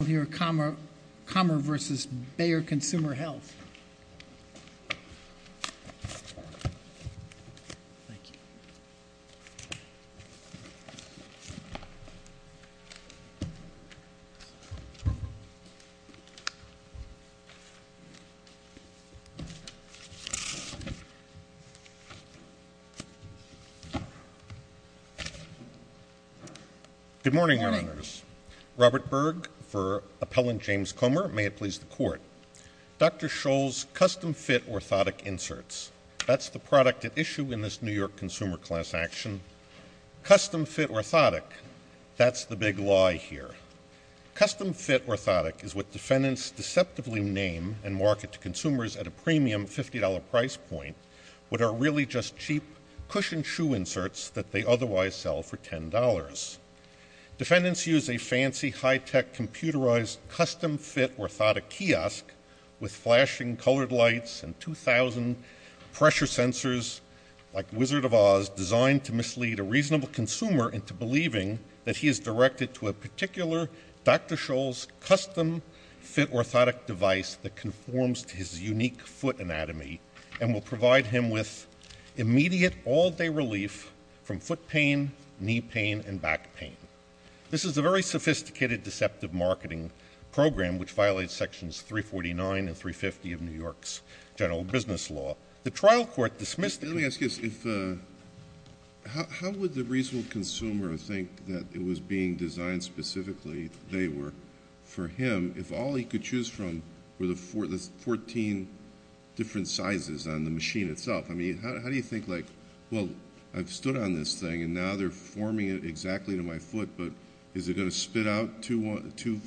Good morning, members. Robert Berg for Appellant James Comer. May it please the Court. Dr. Scholl's custom-fit orthotic inserts. That's the product at issue in this New York Consumer Class action. Custom-fit orthotic. That's the big lie here. Custom-fit orthotic is what defendants deceptively name and market to consumers at a premium $50 price point what are really just cheap cushioned shoe inserts that they otherwise sell for $10. Defendants use a fancy high-tech computerized custom-fit orthotic kiosk with flashing colored lights and 2,000 pressure sensors like Wizard of Oz designed to mislead a reasonable consumer into believing that he is directed to a particular Dr. Scholl's custom-fit orthotic device that conforms to his unique foot anatomy and will provide him with immediate all-day relief from foot pain, knee pain, and back pain. This is a very sophisticated deceptive marketing program which violates sections 349 and 350 of New York's general business law. The trial court dismissed it. Let me ask you this. How would the reasonable consumer think that it was being designed specifically, they were, for him if all he could choose from were the 14 different sizes on the machine itself? I mean, how do you think, like, well, I've stood on this thing and now they're forming it exactly to my foot, but is it going to spit out two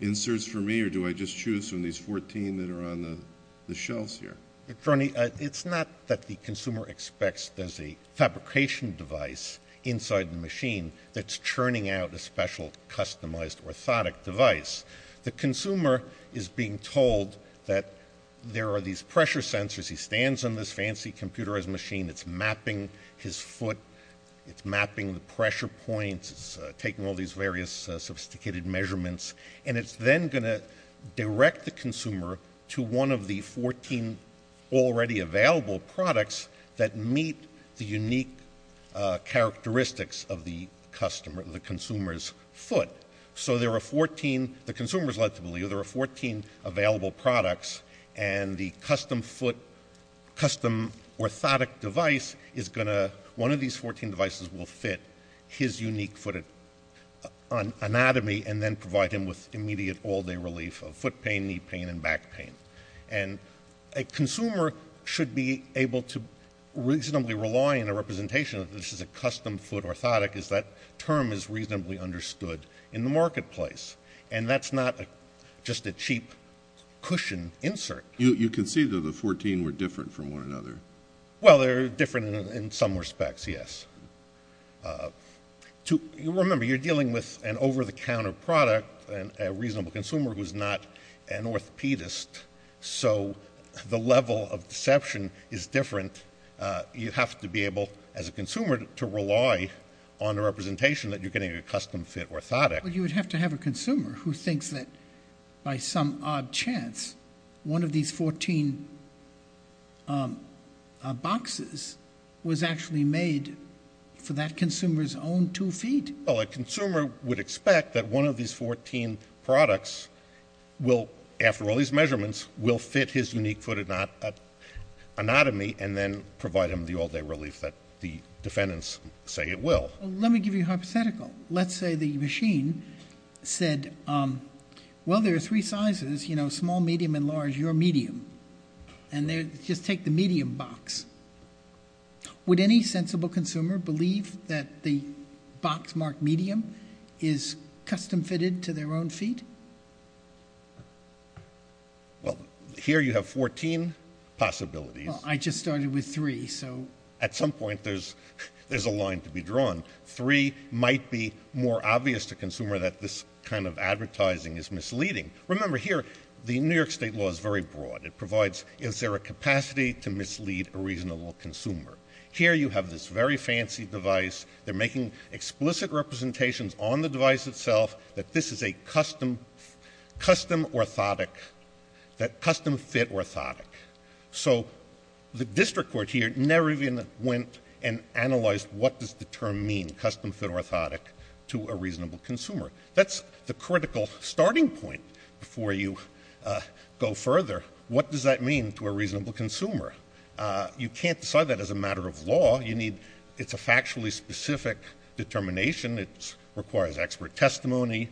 inserts for me or do I just choose from these 14 that are on the shelves here? It's not that the consumer expects there's a fabrication device inside the machine that's churning out a special customized orthotic device. The consumer is being told that there are these pressure sensors. He stands on this fancy computerized machine. It's mapping his foot. It's mapping the pressure points. It's taking all these various sophisticated measurements. And it's then going to direct the consumer to one of the 14 already available products that meet the unique characteristics of the consumer's foot. So there are 14, the consumer is led to believe there are 14 available products, and the custom foot, custom orthotic device is going to, one of these 14 devices will fit his unique foot anatomy and then provide him with immediate all-day relief of foot pain, knee pain, and back pain. And a consumer should be able to reasonably rely on a representation that this is a custom foot orthotic is that term is reasonably understood in the marketplace. And that's not just a cheap cushion insert. You can see that the 14 were different from one another. Well, they're different in some respects, yes. Remember, you're dealing with an over-the-counter product, a reasonable consumer who's not an orthopedist, so the level of deception is different. You have to be able, as a consumer, to rely on a representation that you're getting a custom foot orthotic. But you would have to have a consumer who thinks that by some odd chance one of these 14 boxes was actually made for that consumer's own two feet. Well, a consumer would expect that one of these 14 products will, after all these measurements, will fit his unique foot anatomy and then provide him the all-day relief that the defendants say it will. Well, let me give you a hypothetical. Let's say the machine said, well, there are three sizes, you know, small, medium, and large. You're medium. And just take the medium box. Would any sensible consumer believe that the box marked medium is custom-fitted to their own feet? Well, here you have 14 possibilities. Well, I just started with three, so... At some point there's a line to be drawn. Three might be more obvious to the consumer that this kind of advertising is misleading. Remember, here the New York State law is very broad. It provides, is there a capacity to mislead a reasonable consumer? Here you have this very fancy device. They're making explicit representations on the device itself that this is a custom orthotic, that custom-fit orthotic. So the district court here never even went and analyzed what does the term mean, custom-fit orthotic, to a reasonable consumer. That's the critical starting point before you go further. What does that mean to a reasonable consumer? You can't decide that as a matter of law. You need, it's a factually specific determination. It requires expert testimony,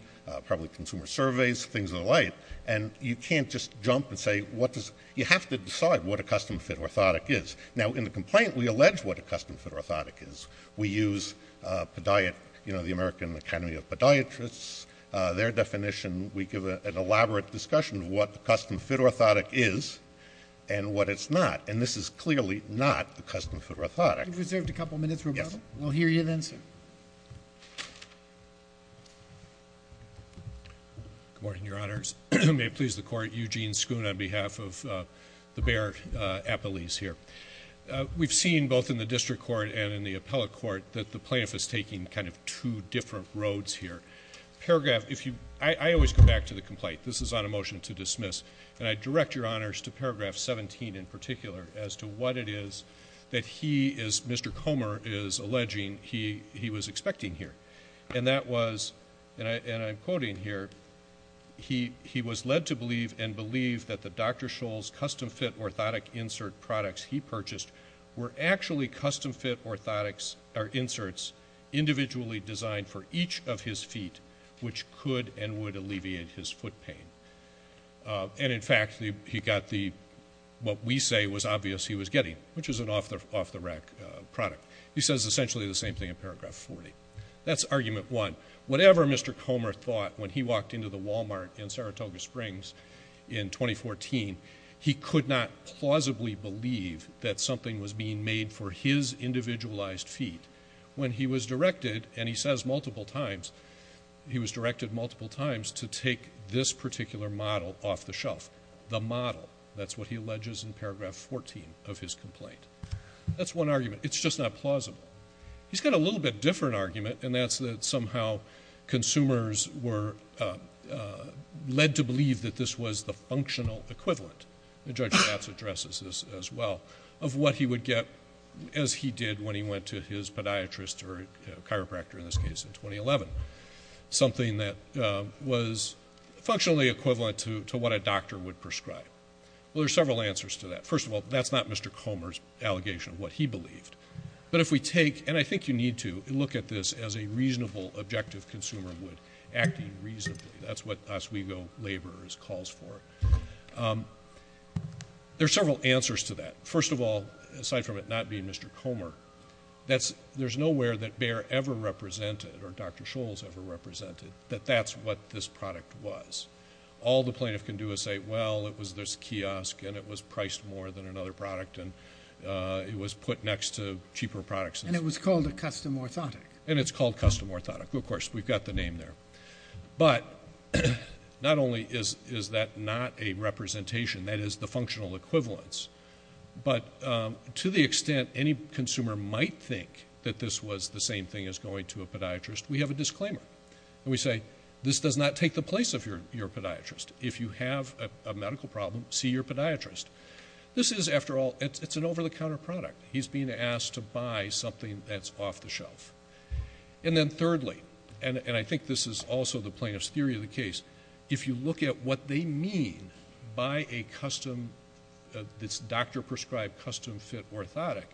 probably consumer surveys, things of the like, and you can't just jump and say what does, you have to decide what a custom-fit orthotic is. Now, in the complaint we allege what a custom-fit orthotic is. We use the American Academy of Podiatrists. Their definition, we give an elaborate discussion of what a custom-fit orthotic is and what it's not, and this is clearly not a custom-fit orthotic. You've reserved a couple of minutes, Roberto. Yes. We'll hear you then, sir. Good morning, Your Honors. May it please the Court, Eugene Schoon on behalf of the Bayer Appellees here. We've seen both in the district court and in the appellate court that the plaintiff is taking kind of two different roads here. Paragraph, if you, I always go back to the complaint, this is on a motion to dismiss, and I direct Your Honors to paragraph 17 in particular as to what it is that he is, Mr. Comer, is alleging he was expecting here, and that was, and I'm quoting here, he was led to believe and believe that the Dr. Scholl's custom-fit orthotic insert products he purchased were actually custom-fit inserts individually designed for each of his feet, which could and would alleviate his foot pain. And, in fact, he got what we say was obvious he was getting, which is an off-the-rack product. He says essentially the same thing in paragraph 40. That's argument one. Whatever Mr. Comer thought when he walked into the Walmart in Saratoga Springs in 2014, he could not plausibly believe that something was being made for his individualized feet. When he was directed, and he says multiple times, he was directed multiple times to take this particular model off the shelf, the model. That's what he alleges in paragraph 14 of his complaint. That's one argument. It's just not plausible. He's got a little bit different argument, and that's that somehow consumers were led to believe that this was the functional equivalent, and Judge Katz addresses this as well, of what he would get as he did when he went to his podiatrist or chiropractor in this case in 2011, something that was functionally equivalent to what a doctor would prescribe. Well, there are several answers to that. First of all, that's not Mr. Comer's allegation of what he believed. But if we take, and I think you need to, look at this as a reasonable, objective consumer would acting reasonably. That's what Oswego Labor calls for. There are several answers to that. First of all, aside from it not being Mr. Comer, there's nowhere that Bayer ever represented or Dr. Scholz ever represented that that's what this product was. All the plaintiff can do is say, well, it was this kiosk, and it was priced more than another product, and it was put next to cheaper products. And it was called a custom orthotic. And it's called custom orthotic. Of course, we've got the name there. But not only is that not a representation, that is the functional equivalence, but to the extent any consumer might think that this was the same thing as going to a podiatrist, we have a disclaimer. And we say, this does not take the place of your podiatrist. If you have a medical problem, see your podiatrist. This is, after all, it's an over-the-counter product. He's being asked to buy something that's off the shelf. And then thirdly, and I think this is also the plaintiff's theory of the case, if you look at what they mean by a custom, this doctor-prescribed custom-fit orthotic,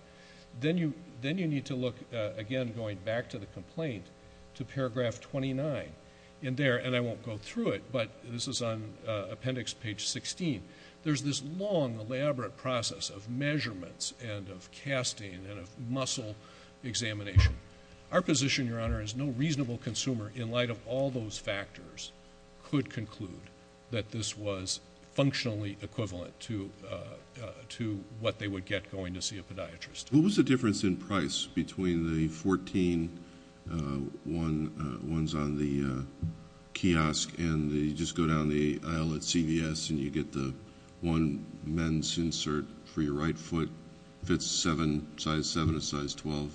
then you need to look, again, going back to the complaint, to paragraph 29 in there. And I won't go through it, but this is on appendix page 16. There's this long, elaborate process of measurements and of casting and of muscle examination. Our position, Your Honor, is no reasonable consumer, in light of all those factors, could conclude that this was functionally equivalent to what they would get going to see a podiatrist. What was the difference in price between the 14 ones on the kiosk and you just go down the aisle at CVS and you get the one men's insert for your right foot, fits a size 7, a size 12?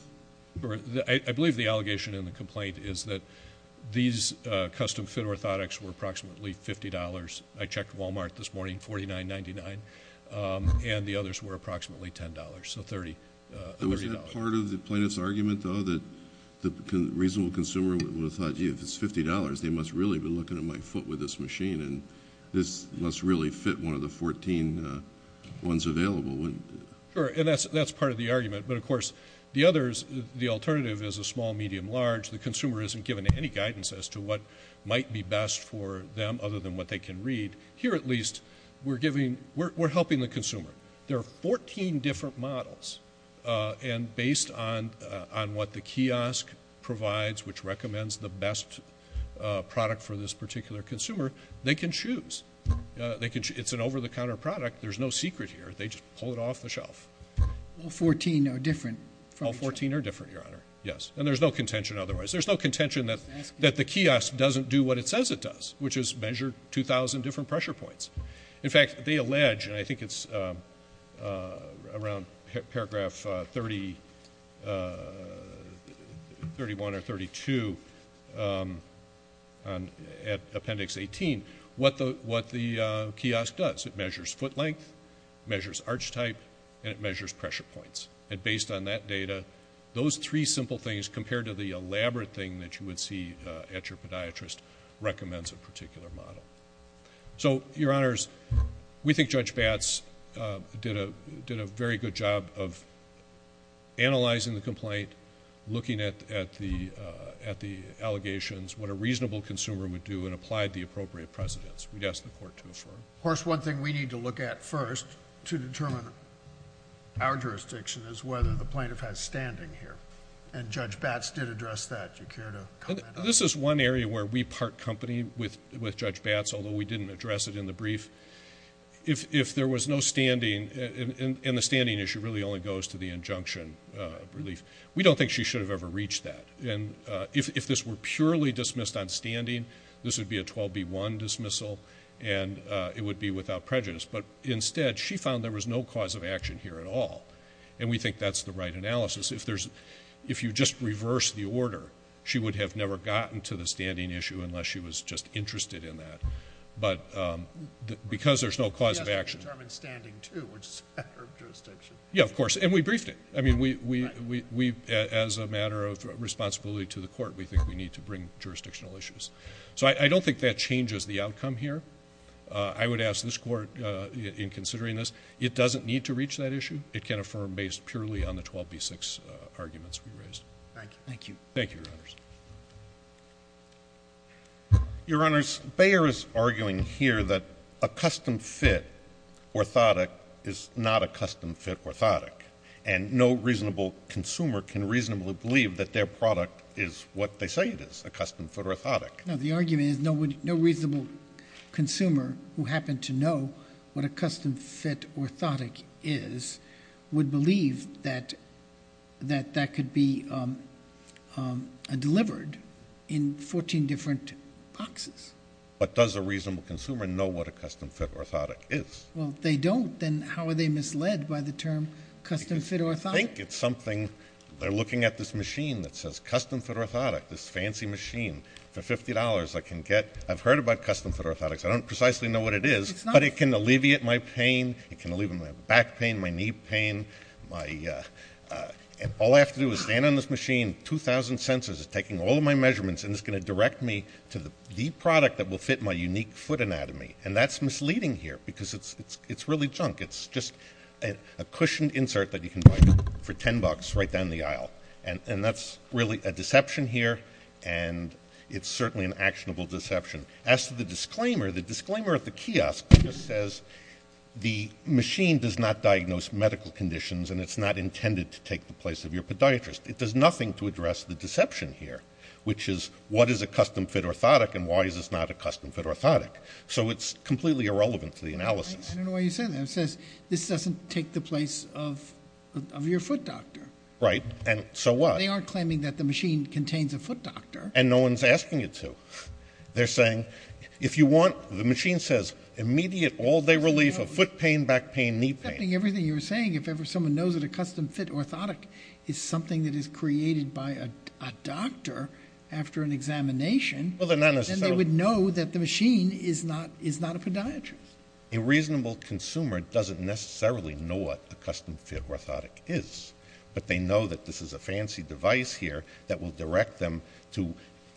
I believe the allegation in the complaint is that these custom-fit orthotics were approximately $50. I checked Walmart this morning, $49.99, and the others were approximately $10, so $30. Was that part of the plaintiff's argument, though, that the reasonable consumer would have thought, gee, if it's $50, they must really have been looking at my foot with this machine, and this must really fit one of the 14 ones available? Sure, and that's part of the argument. But, of course, the others, the alternative is a small, medium, large. The consumer isn't given any guidance as to what might be best for them other than what they can read. Here, at least, we're helping the consumer. There are 14 different models, and based on what the kiosk provides, which recommends the best product for this particular consumer, they can choose. It's an over-the-counter product. There's no secret here. They just pull it off the shelf. All 14 are different from each other? All 14 are different, Your Honor, yes. And there's no contention otherwise. There's no contention that the kiosk doesn't do what it says it does, which is measure 2,000 different pressure points. In fact, they allege, and I think it's around paragraph 31 or 32 at Appendix 18, what the kiosk does. It measures foot length, measures arch type, and it measures pressure points. And based on that data, those three simple things compared to the elaborate thing that you would see at your podiatrist recommends a particular model. So, Your Honors, we think Judge Batts did a very good job of analyzing the complaint, looking at the allegations, what a reasonable consumer would do, and applied the appropriate precedents. We'd ask the Court to affirm. Of course, one thing we need to look at first to determine our jurisdiction is whether the plaintiff has standing here, and Judge Batts did address that. Do you care to comment on that? This is one area where we part company with Judge Batts, although we didn't address it in the brief. If there was no standing, and the standing issue really only goes to the injunction relief, we don't think she should have ever reached that. And if this were purely dismissed on standing, this would be a 12B1 dismissal, and it would be without prejudice. But instead, she found there was no cause of action here at all, and we think that's the right analysis. If you just reverse the order, she would have never gotten to the standing issue unless she was just interested in that. But because there's no cause of action. Yes, it determines standing, too, which is a matter of jurisdiction. Yeah, of course, and we briefed it. I mean, as a matter of responsibility to the Court, we think we need to bring jurisdictional issues. So I don't think that changes the outcome here. I would ask this Court, in considering this, it doesn't need to reach that issue. It can affirm based purely on the 12B6 arguments we raised. Thank you. Thank you, Your Honors. Your Honors, Bayer is arguing here that a custom-fit orthotic is not a custom-fit orthotic, and no reasonable consumer can reasonably believe that their product is what they say it is, a custom-fit orthotic. No, the argument is no reasonable consumer who happened to know what a custom-fit orthotic is would believe that that could be delivered in 14 different boxes. But does a reasonable consumer know what a custom-fit orthotic is? Well, if they don't, then how are they misled by the term custom-fit orthotic? I think it's something, they're looking at this machine that says custom-fit orthotic, this fancy machine. For $50, I can get, I've heard about custom-fit orthotics. I don't precisely know what it is, but it can alleviate my pain. It can alleviate my back pain, my knee pain. All I have to do is stand on this machine, 2,000 sensors taking all of my measurements, and it's going to direct me to the product that will fit my unique foot anatomy. And that's misleading here, because it's really junk. It's just a cushioned insert that you can buy for $10 right down the aisle. And that's really a deception here, and it's certainly an actionable deception. As to the disclaimer, the disclaimer at the kiosk just says, the machine does not diagnose medical conditions, and it's not intended to take the place of your podiatrist. It does nothing to address the deception here, which is, what is a custom-fit orthotic, and why is this not a custom-fit orthotic? So it's completely irrelevant to the analysis. I don't know why you say that. It says, this doesn't take the place of your foot doctor. Right, and so what? They are claiming that the machine contains a foot doctor. And no one's asking you to. They're saying, if you want, the machine says, immediate all-day relief of foot pain, back pain, knee pain. Everything you were saying, if ever someone knows that a custom-fit orthotic is something that is created by a doctor after an examination, then they would know that the machine is not a podiatrist. A reasonable consumer doesn't necessarily know what a custom-fit orthotic is, but they know that this is a fancy device here that will direct them to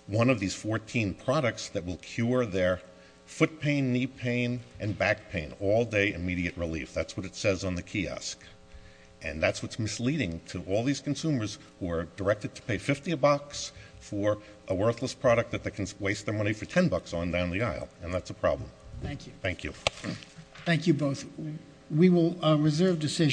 one of these 14 products that will cure their foot pain, knee pain, and back pain, all-day immediate relief. That's what it says on the kiosk. And that's what's misleading to all these consumers who are directed to pay $50 for a worthless product that they can waste their money for $10 on down the aisle. And that's a problem. Thank you. Thank you. Thank you both. We will reserve decision.